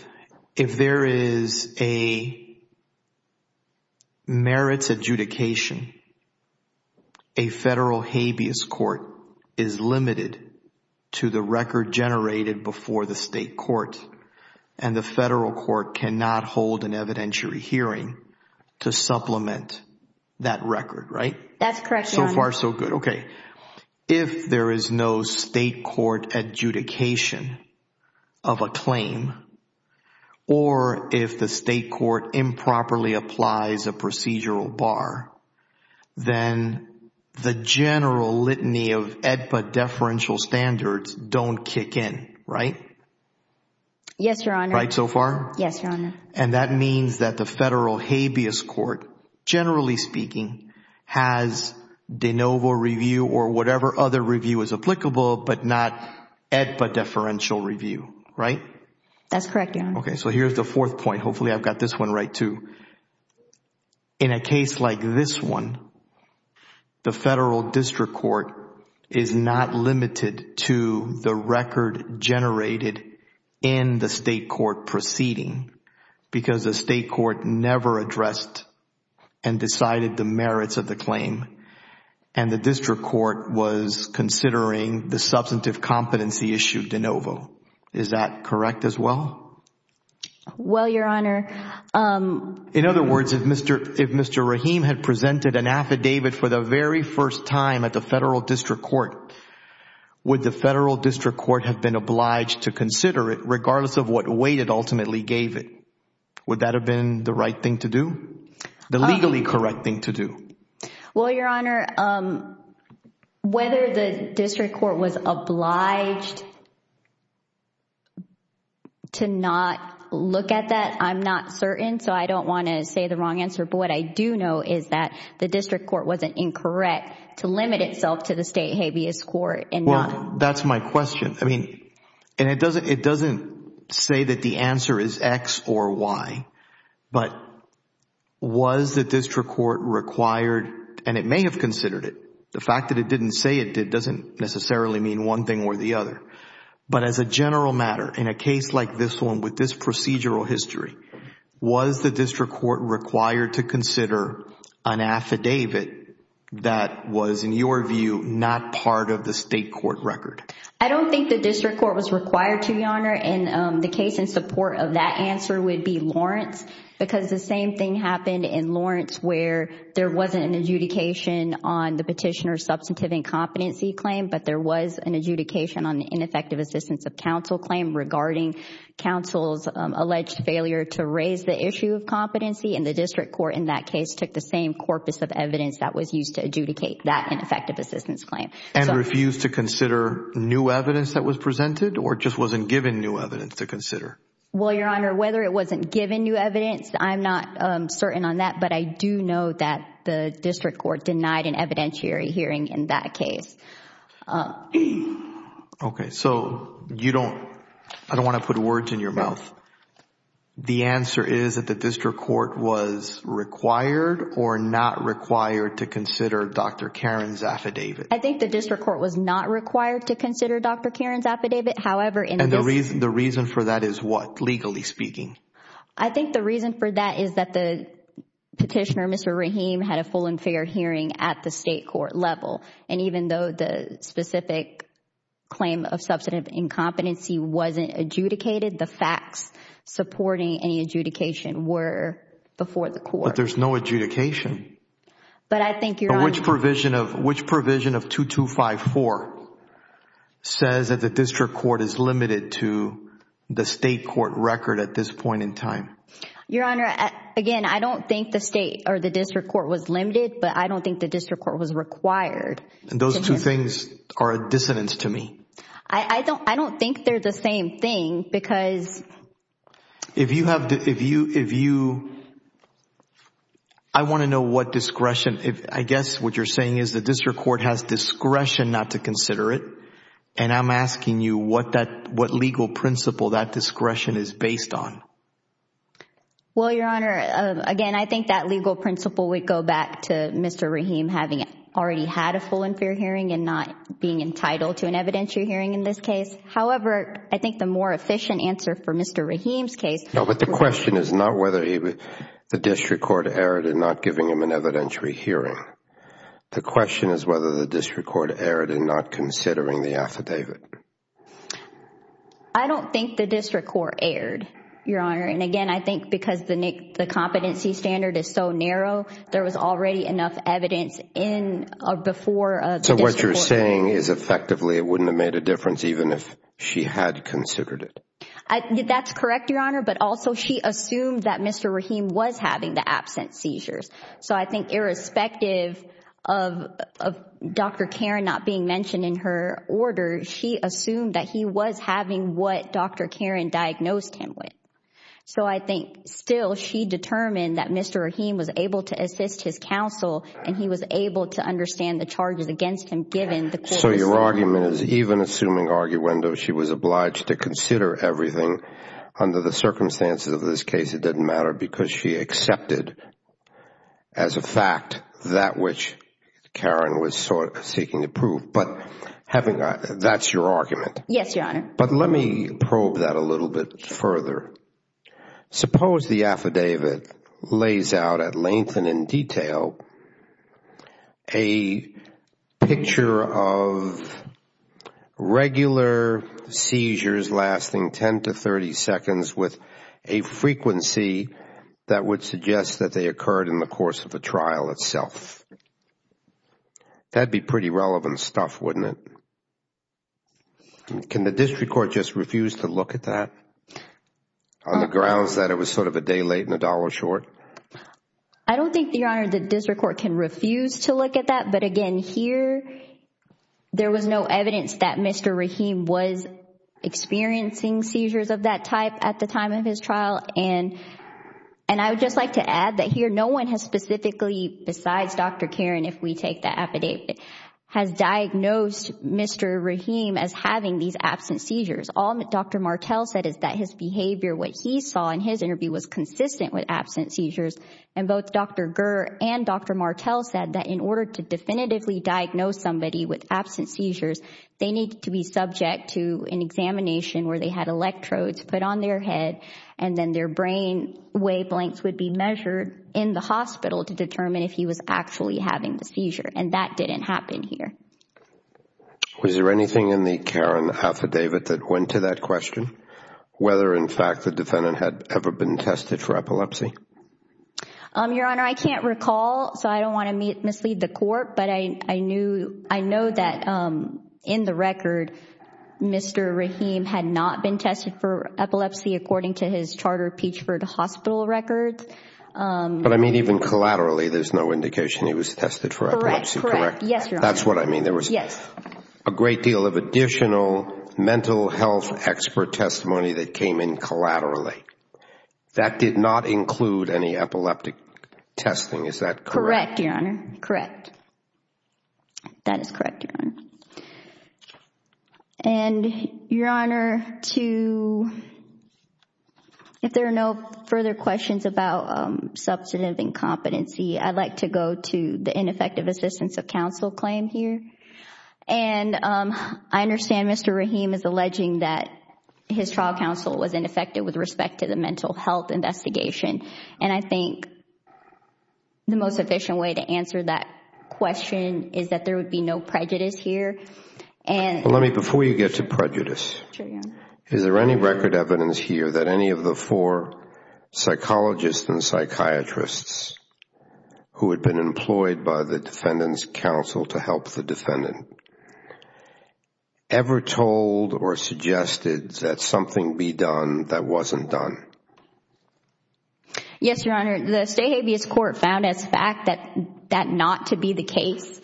there is a merits adjudication, a federal habeas court is limited to the record generated before the state court and the federal court cannot hold an evidentiary hearing to supplement that record, right? That's correct, Your Honor. So far, so good. Okay. If there is no state court adjudication of a claim or if the state court improperly applies a procedural bar, then the general litany of AEDPA deferential standards don't kick in, right? Yes, Your Honor. Right so far? Yes, Your Honor. And that means that the federal habeas court, generally speaking, has de novo review or whatever other review is applicable but not AEDPA deferential review, right? That's correct, Your Honor. Okay, so here's the fourth point. Hopefully, I've got this one right too. In a case like this one, the federal district court is not limited to the record generated in the state court proceeding because the state court never addressed and decided the merits of the claim and the district court was considering the substantive competency issue de novo. Is that correct as well? Well, Your Honor. In other words, if Mr. Rahim had presented an affidavit for the very first time at the of what weight it ultimately gave it, would that have been the right thing to do? The legally correct thing to do? Well, Your Honor, whether the district court was obliged to not look at that, I'm not certain so I don't want to say the wrong answer but what I do know is that the district court wasn't incorrect to limit itself to the state habeas court and not... It doesn't say that the answer is X or Y but was the district court required and it may have considered it. The fact that it didn't say it, it doesn't necessarily mean one thing or the other. But as a general matter, in a case like this one with this procedural history, was the district court required to consider an affidavit that was, in your view, not part of the state court record? I don't think the district court was required to, Your Honor, and the case in support of that answer would be Lawrence because the same thing happened in Lawrence where there wasn't an adjudication on the petitioner's substantive incompetency claim but there was an adjudication on the ineffective assistance of counsel claim regarding counsel's alleged failure to raise the issue of competency and the district court in that case took the same corpus of evidence that was used to adjudicate that ineffective assistance claim. And refused to consider new evidence that was presented or just wasn't given new evidence to consider? Well, Your Honor, whether it wasn't given new evidence, I'm not certain on that but I do know that the district court denied an evidentiary hearing in that case. Okay, so you don't... I don't want to put words in your mouth. The answer is that the district court was required or not required to consider Dr. Karen's affidavit? I think the district court was not required to consider Dr. Karen's affidavit. However, in this... And the reason for that is what, legally speaking? I think the reason for that is that the petitioner, Mr. Rahim, had a full and fair hearing at the state court level and even though the specific claim of substantive incompetency wasn't adjudicated, the facts supporting any adjudication were before the court. But there's no adjudication. But I think, Your Honor... Which provision of 2254 says that the district court is limited to the state court record at this point in time? Your Honor, again, I don't think the state or the district court was limited but I don't think the district court was required. And those two things are a dissonance to me. I don't think they're the same thing because... I want to know what discretion... I guess what you're saying is the district court has discretion not to consider it and I'm asking you what legal principle that discretion is based on? Well, Your Honor, again, I think that legal principle would go back to Mr. Rahim having already had a full and fair hearing and not being entitled to an evidentiary hearing in this case. However, I think the more efficient answer for Mr. Rahim's case... I don't think the district court erred, Your Honor. And again, I think because the competency standard is so narrow, there was already enough evidence before the district court... So what you're saying is effectively it wouldn't have made a difference even if she had considered it? That's correct, Your Honor. But also she assumed that Mr. Rahim was having the absent seizures. So I think irrespective of Dr. Karan not being mentioned in her order, she assumed that he was having what Dr. Karan diagnosed him with. So I think still she determined that Mr. Rahim was able to assist his counsel and he was able to understand the charges against him given the... So your argument is even assuming arguendo, she was obliged to consider everything under the circumstances of this case, it didn't matter because she accepted as a fact that which Karan was seeking to prove. But that's your argument. Yes, Your Honor. But let me probe that a little bit further. Suppose the affidavit lays out at length and in detail a picture of regular seizures lasting 10 to 30 seconds with a frequency that would suggest that they occurred in the course of the trial itself. That'd be pretty relevant stuff, wouldn't it? Can the district court just refuse to look at that on the grounds that it was sort of a day late and a dollar short? I don't think, Your Honor, the district court can refuse to look at that. Again, here there was no evidence that Mr. Rahim was experiencing seizures of that type at the time of his trial. I would just like to add that here no one has specifically, besides Dr. Karan, if we take the affidavit, has diagnosed Mr. Rahim as having these absent seizures. All that Dr. Martel said is that his behavior, what he saw in his interview, was consistent with absent seizures. Both Dr. Gur and Dr. Martel said that in order to definitively diagnose somebody with absent seizures, they need to be subject to an examination where they had electrodes put on their head and then their brain wavelengths would be measured in the hospital to determine if he was actually having the seizure. That didn't happen here. Was there anything in the Karan affidavit that went to that question, whether in fact the defendant had ever been tested for epilepsy? Your Honor, I can't recall, so I don't want to mislead the court, but I know that in the record, Mr. Rahim had not been tested for epilepsy according to his charter Peachford Hospital records. But I mean even collaterally, there's no indication he was tested for epilepsy, correct? Correct, correct. Yes, Your Honor. That's what I mean. There was a great deal of additional mental health expert testimony that came in collaterally. That did not include any epileptic testing, is that correct? Correct, Your Honor, correct. That is correct, Your Honor. And Your Honor, if there are no further questions about substantive incompetency, I'd like to go to the ineffective assistance of counsel claim here. And I understand Mr. Rahim is alleging that his trial counsel was ineffective with respect to the mental health investigation. And I think the most efficient way to answer that question is that there would be no prejudice here. Let me, before you get to prejudice, is there any record evidence here that any of the four psychologists and psychiatrists who had been employed by the defendant's counsel to help the defendant ever told or suggested that something be done that wasn't done? Yes, Your Honor. The State Habeas Court found as fact that that not to be the case.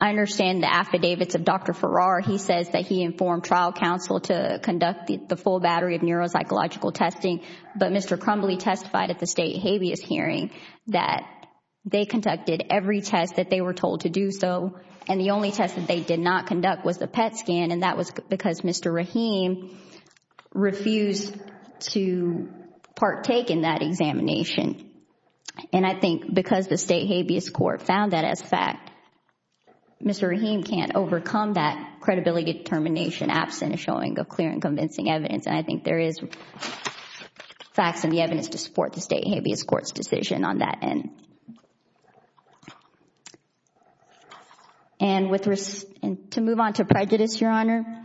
I understand the affidavits of Dr. Farrar. He says that he informed trial counsel to conduct the full battery of neuropsychological testing. But Mr. Crumbly testified at the State Habeas hearing that they conducted every test that they were told to do so. And the only test that they did not conduct was the PET scan. And that was because Mr. Rahim refused to partake in that examination. And I think because the State Habeas Court found that as fact, Mr. Rahim can't overcome that credibility determination absent a showing of clear and convincing evidence. And I think there is facts in the evidence to support the State Habeas Court's decision on that end. And to move on to prejudice, Your Honor,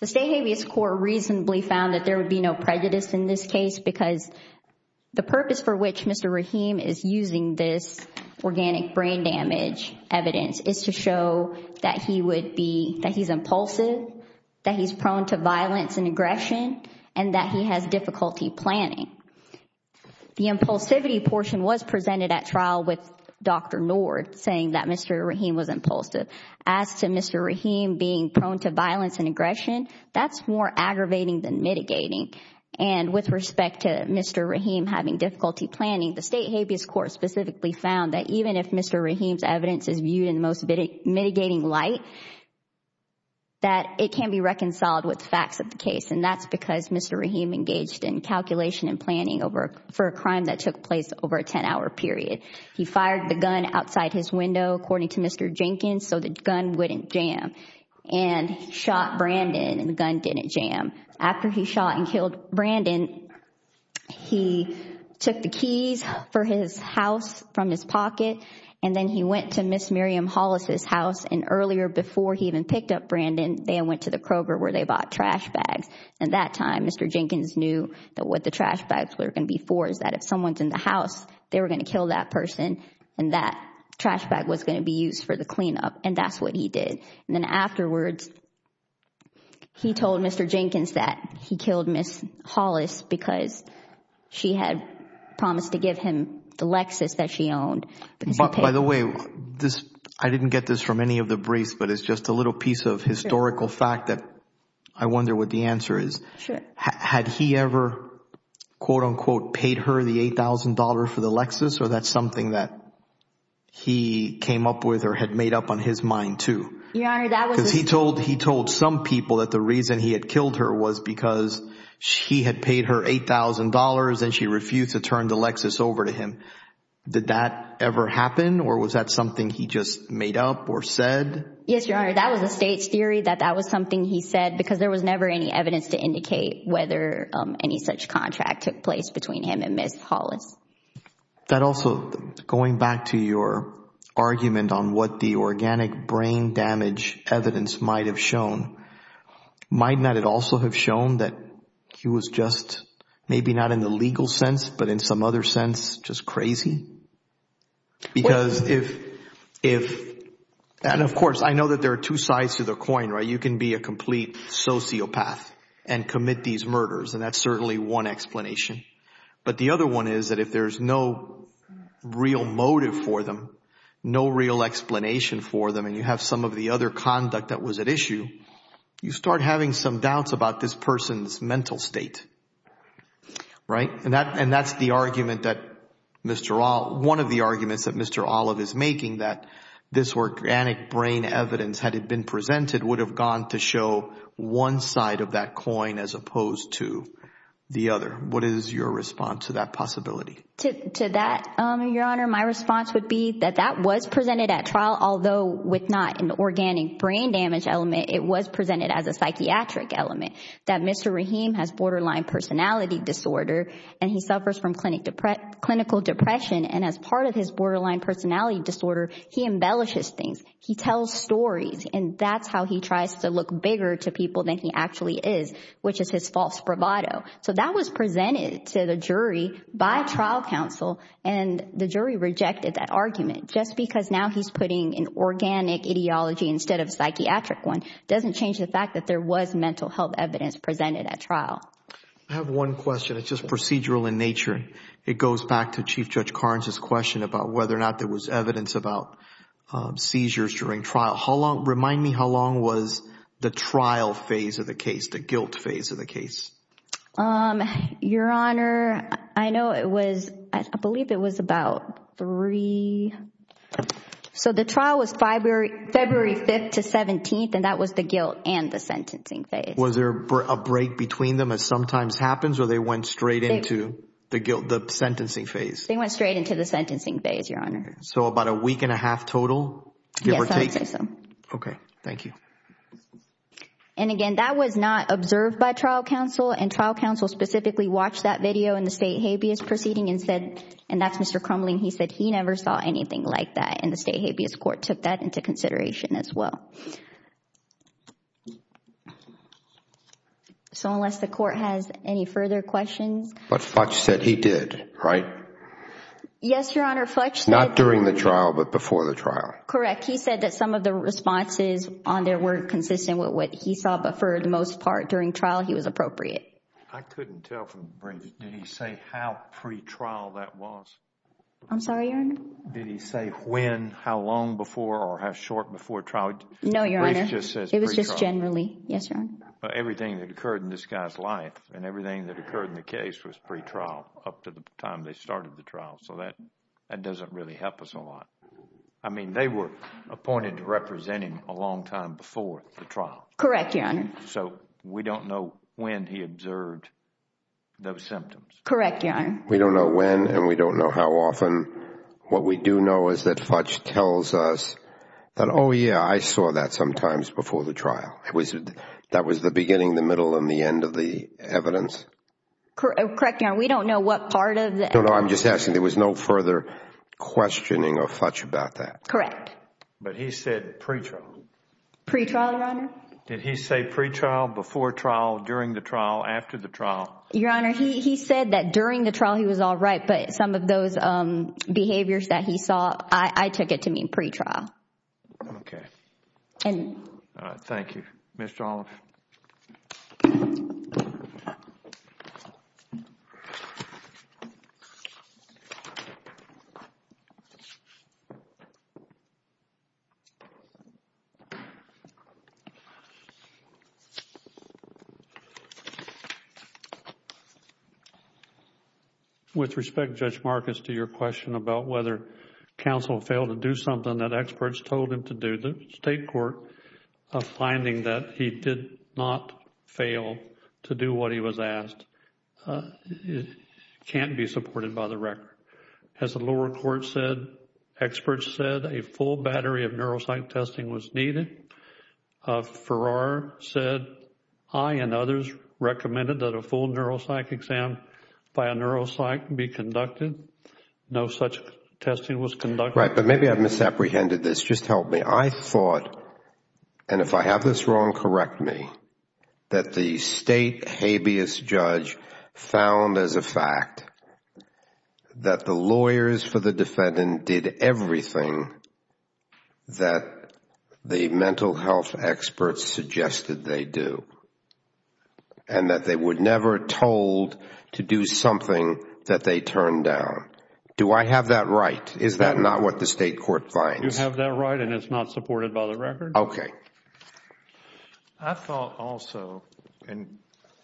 the State Habeas Court reasonably found that there would be no prejudice in this case because the purpose for which Mr. Rahim is using this organic brain damage evidence is to show that he's impulsive, that he's prone to violence and aggression, and that he has difficulty planning. The impulsivity portion was presented at trial with Dr. Nord saying that Mr. Rahim was impulsive. As to Mr. Rahim being prone to violence and aggression, that's more aggravating than mitigating. And with respect to Mr. Rahim having difficulty planning, the State Habeas Court specifically found that even if Mr. Rahim's evidence is viewed in the most mitigating light, that it can be reconciled with facts of the case. And that's because Mr. Rahim engaged in calculation and planning for a crime that took place over a 10-hour period. He fired the gun outside his window, according to Mr. Jenkins, so the gun wouldn't jam. And he shot Brandon and the gun didn't jam. After he shot and killed Brandon, he took the keys for his house from his pocket and then he went to Ms. Miriam Hollis' house. And earlier, before he even picked up Brandon, they went to the Kroger where they bought trash bags. At that time, Mr. Jenkins knew that what the trash bags were going to be for is that if someone's in the house, they were going to kill that person and that trash bag was going to be used for the cleanup. And that's what he did. And then afterwards, he told Mr. Jenkins that he killed Ms. Hollis because she had promised to give him the Lexus that she owned. But by the way, I didn't get this from any of the briefs, but it's just a little piece of historical fact that I wonder what the answer is. Had he ever, quote unquote, paid her the $8,000 for the Lexus or that's something that he came up with or had made up on his mind too? Because he told some people that the reason he had killed her was because she had paid her $8,000 and she refused to turn the Lexus over to him. Did that ever happen or was that something he just made up or said? Yes, Your Honor. That was a state's theory that that was something he said because there was never any evidence to indicate whether any such contract took place between him and Ms. Hollis. That also, going back to your argument on what the organic brain damage evidence might have shown, might not it also have shown that he was just maybe not in the legal sense, but in some other sense, just crazy? And of course, I know that there are two sides to the coin, right? You can be a complete sociopath and commit these murders and that's certainly one explanation. But the other one is that if there's no real motive for them, no real explanation for them and you have some of the other conduct that was at issue, you start having some doubts about this person's mental state, right? And that's one of the arguments that Mr. Olive is making, that this organic brain evidence, had it been presented, would have gone to show one side of that coin as opposed to the other. What is your response to that possibility? To that, Your Honor, my response would be that that was presented at trial, although with not an organic brain damage element, it was presented as a psychiatric element. That Mr. Rahim has borderline personality disorder and he suffers from clinical depression and as part of his borderline personality disorder, he embellishes things. He tells stories and that's how he tries to look bigger to people than he actually is, which is his false bravado. So that was presented to the jury by trial counsel and the jury rejected that argument just because now he's putting an organic ideology instead of a psychiatric one, doesn't change the fact that there was mental health evidence presented at trial. I have one question, it's just procedural in nature. It goes back to Chief Judge Carnes' question about whether or not there was evidence about seizures during trial. How long, remind me how long was the trial phase of the case, the guilt phase of the case? Your Honor, I know it was, I believe it was about three, so the trial was February 5th to 17th and that was the guilt and the sentencing phase. Was there a break between them as sometimes happens or they went straight into the guilt, the sentencing phase? They went straight into the sentencing phase, Your Honor. So about a week and a half total? Yes, I would say so. Okay, thank you. And again, that was not observed by trial counsel and trial counsel specifically watched that video in the state habeas proceeding and said, and that's Mr. Crumling, he said he never saw anything like that and the state habeas court took that into consideration as well. Okay. So unless the court has any further questions. But Futch said he did, right? Yes, Your Honor, Futch said... Not during the trial, but before the trial. Correct. He said that some of the responses on there were consistent with what he saw, but for the most part during trial, he was appropriate. I couldn't tell from the briefing. Did he say how pre-trial that was? I'm sorry, Your Honor? Did he say when, how long before or how short before trial? No, Your Honor, it was just generally. Yes, Your Honor. Everything that occurred in this guy's life and everything that occurred in the case was pre-trial up to the time they started the trial, so that doesn't really help us a lot. I mean, they were appointed to represent him a long time before the trial. Correct, Your Honor. So we don't know when he observed those symptoms. Correct, Your Honor. We don't know when and we don't know how often. What we do know is that Futch tells us that, oh yeah, I saw that sometimes before the trial. That was the beginning, the middle, and the end of the evidence. Correct, Your Honor. We don't know what part of the evidence... No, no, I'm just asking. There was no further questioning of Futch about that. But he said pre-trial. Pre-trial, Your Honor. Did he say pre-trial, before trial, during the trial, after the trial? Your Honor, he said that during the trial he was all right, but some of those behaviors that he saw, I took it to mean pre-trial. Okay. And... Thank you. Mr. Olive. Okay. With respect, Judge Marcus, to your question about whether counsel failed to do something that experts told him to do, the State Court finding that he did not fail to do what he was asked can't be supported by the record. As the lower court said, experts said a full battery of neuropsych testing was needed. Farrar said I and others recommended that a full neuropsych exam by a neuropsych be conducted. No such testing was conducted. But maybe I've misapprehended this. Just help me. I thought, and if I have this wrong, correct me, that the State habeas judge found as a fact that the lawyers for the defendant did everything that the mental health experts suggested they do. And that they were never told to do something that they turned down. Do I have that right? Is that not what the State Court finds? You have that right and it's not supported by the record? Okay. I thought also, and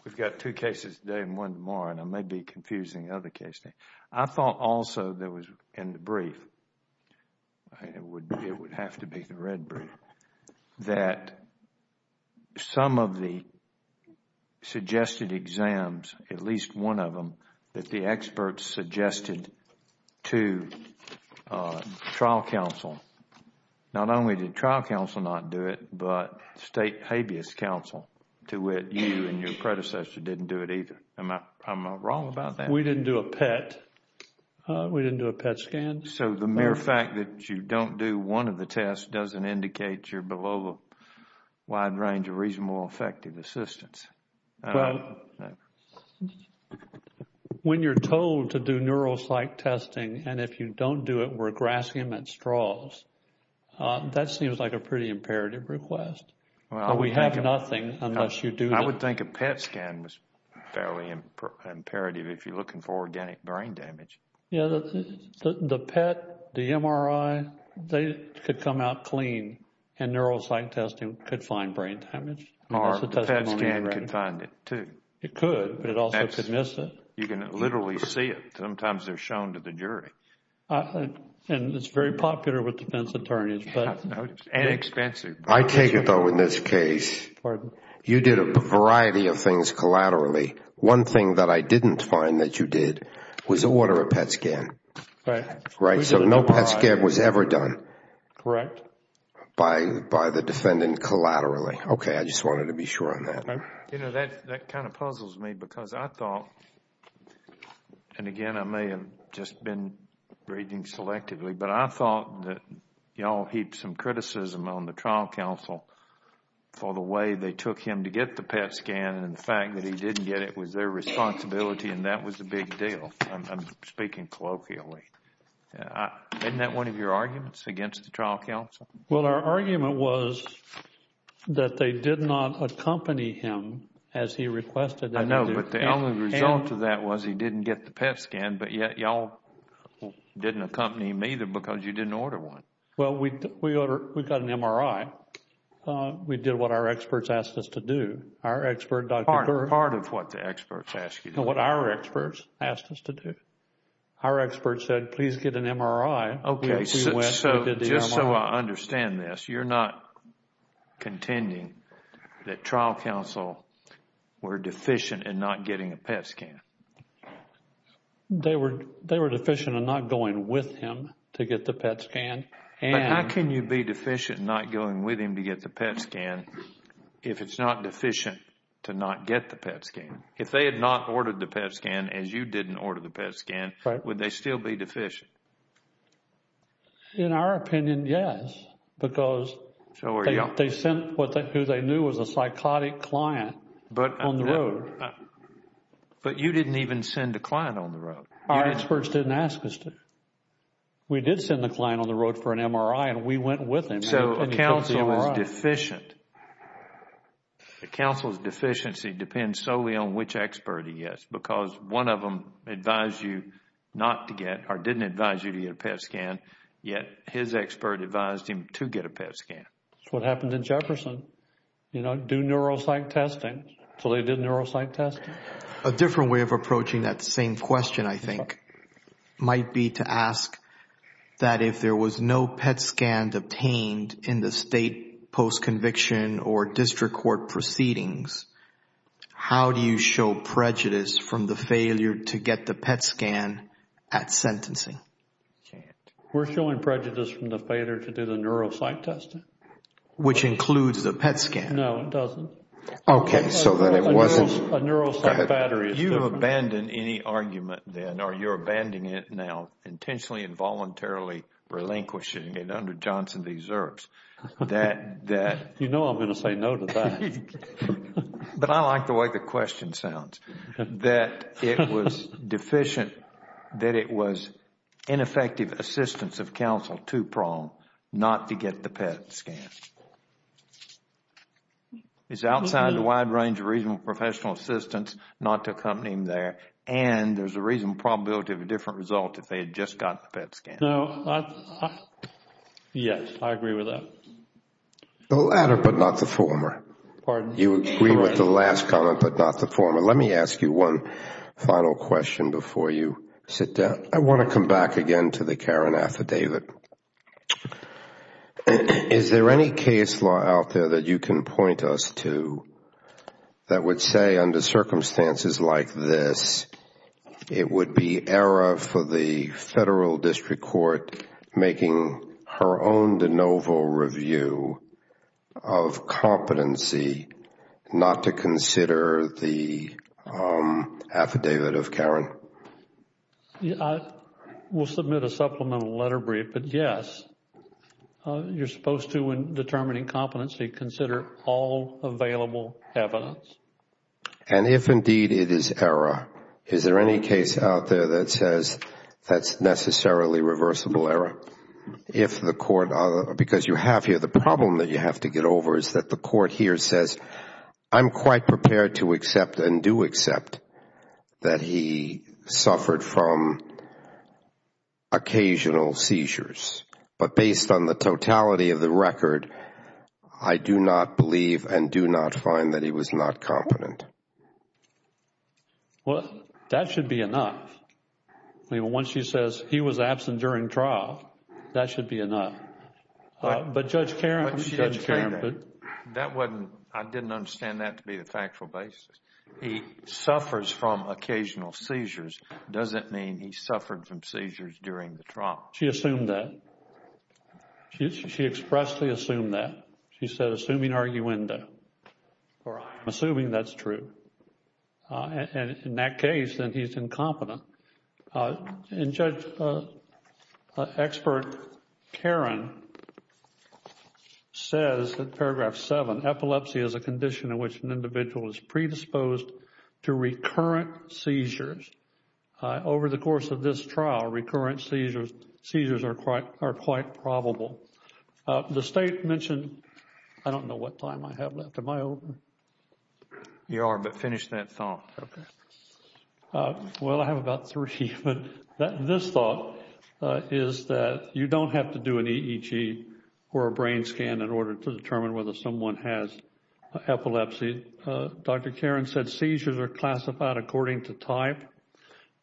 we've got two cases today and one tomorrow, and I may be confusing other cases. I thought also that was in the brief, it would have to be the red brief, that some of the experts suggested to trial counsel, not only did trial counsel not do it, but State habeas counsel, to which you and your predecessor didn't do it either. Am I wrong about that? We didn't do a PET. We didn't do a PET scan. So the mere fact that you don't do one of the tests doesn't indicate you're below a wide range of reasonable effective assistance. Well, when you're told to do neuropsych testing and if you don't do it, we're grasping them at straws, that seems like a pretty imperative request. Well, we have nothing unless you do that. I would think a PET scan was fairly imperative if you're looking for organic brain damage. Yeah, the PET, the MRI, they could come out clean and neuropsych testing could find brain damage. Or the PET scan could find it too. It could, but it also could miss it. You can literally see it. Sometimes they're shown to the jury. And it's very popular with defense attorneys. Yeah, and expensive. I take it though in this case, you did a variety of things collaterally. One thing that I didn't find that you did was order a PET scan. Right. Right. So no PET scan was ever done. Correct. By the defendant collaterally. I just wanted to be sure on that. That kind of puzzles me because I thought, and again, I may have just been reading selectively, but I thought that you all heaped some criticism on the trial counsel for the way they took him to get the PET scan and the fact that he didn't get it was their responsibility and that was the big deal. I'm speaking colloquially. Isn't that one of your arguments against the trial counsel? Well, our argument was that they did not accompany him as he requested. I know, but the only result of that was he didn't get the PET scan, but yet y'all didn't accompany him either because you didn't order one. Well, we got an MRI. We did what our experts asked us to do. Our expert, Dr. Girth. Part of what the experts asked you to do. What our experts asked us to do. Our expert said, please get an MRI. Okay, so just so I understand this, you're not contending that trial counsel were deficient in not getting a PET scan? They were deficient in not going with him to get the PET scan. But how can you be deficient in not going with him to get the PET scan if it's not deficient to not get the PET scan? If they had not ordered the PET scan as you didn't order the PET scan, would they still be deficient? In our opinion, yes. Because they sent who they knew was a psychotic client on the road. But you didn't even send a client on the road. Our experts didn't ask us to. We did send the client on the road for an MRI and we went with him. So a counsel is deficient. The counsel's deficiency depends solely on which expert he is. One of them advised you not to get or didn't advise you to get a PET scan, yet his expert advised him to get a PET scan. That's what happened in Jefferson. Do neuropsych testing. So they did neuropsych testing. A different way of approaching that same question, I think, might be to ask that if there was no PET scan obtained in the state post-conviction or district court proceedings, how do you show prejudice from the failure to get the PET scan at sentencing? We're showing prejudice from the failure to do the neuropsych testing. Which includes the PET scan. No, it doesn't. Okay, so then it wasn't... A neuropsych battery is different. You abandon any argument then or you're abandoning it now, intentionally and voluntarily relinquishing it under Johnson v. Zerbs. That, that... You know I'm going to say no to that. But I like the way the question sounds. That it was deficient. That it was ineffective assistance of counsel to Prong not to get the PET scan. It's outside the wide range of reasonable professional assistance not to accompany him there. And there's a reasonable probability of a different result if they had just gotten the PET scan. So, yes, I agree with that. The latter but not the former. Pardon? You agree with the last comment but not the former. Let me ask you one final question before you sit down. I want to come back again to the Karan affidavit. Is there any case law out there that you can point us to that would say under circumstances like this, it would be error for the Federal District Court making her own de novo review of competency not to consider the affidavit of Karan? I will submit a supplemental letter brief. But, yes, you're supposed to, in determining competency, consider all available evidence. And if indeed it is error, is there any case out there that says that's necessarily reversible error? Because you have here the problem that you have to get over is that the court here says, I'm quite prepared to accept and do accept that he suffered from occasional seizures. But based on the totality of the record, I do not believe and do not find that he was not competent. Well, that should be enough. I mean, once she says he was absent during trial, that should be enough. But Judge Karan. But Judge Karan, that wasn't, I didn't understand that to be the factual basis. He suffers from occasional seizures doesn't mean he suffered from seizures during the trial. She assumed that. She expressly assumed that. She said, assuming arguendo, or I'm assuming that's true. And in that case, then he's incompetent. And Judge, expert Karan says that paragraph 7, epilepsy is a condition in which an individual is predisposed to recurrent seizures. Over the course of this trial, recurrent seizures are quite probable. The state mentioned, I don't know what time I have left. Am I open? You are, but finish that thought. Okay. Well, I have about three. But this thought is that you don't have to do an EEG or a brain scan in order to determine whether someone has epilepsy. Dr. Karan said seizures are classified according to type.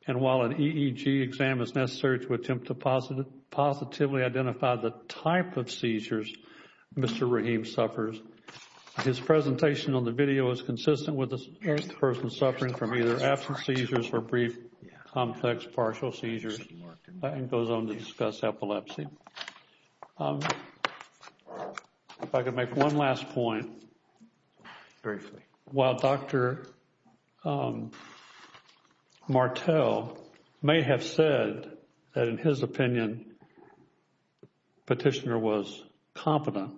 And while an EEG exam is necessary to attempt to positively identify the type of seizures Mr. Rahim suffers, his presentation on the video is consistent with the person suffering from either absent seizures or brief complex partial seizures and goes on to discuss epilepsy. If I could make one last point. Briefly. While Dr. Martel may have said that in his opinion, Petitioner was competent,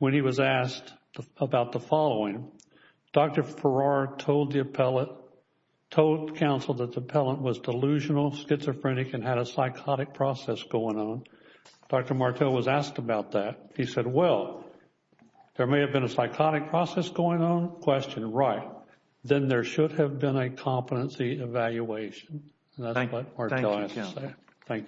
when he was asked about the following, Dr. Farrar told the appellate, told counsel that the appellant was delusional, schizophrenic and had a psychotic process going on. Dr. Martel was asked about that. He said, well, there may have been a psychotic process going on. Question, right. Then there should have been a competency evaluation. Thank you.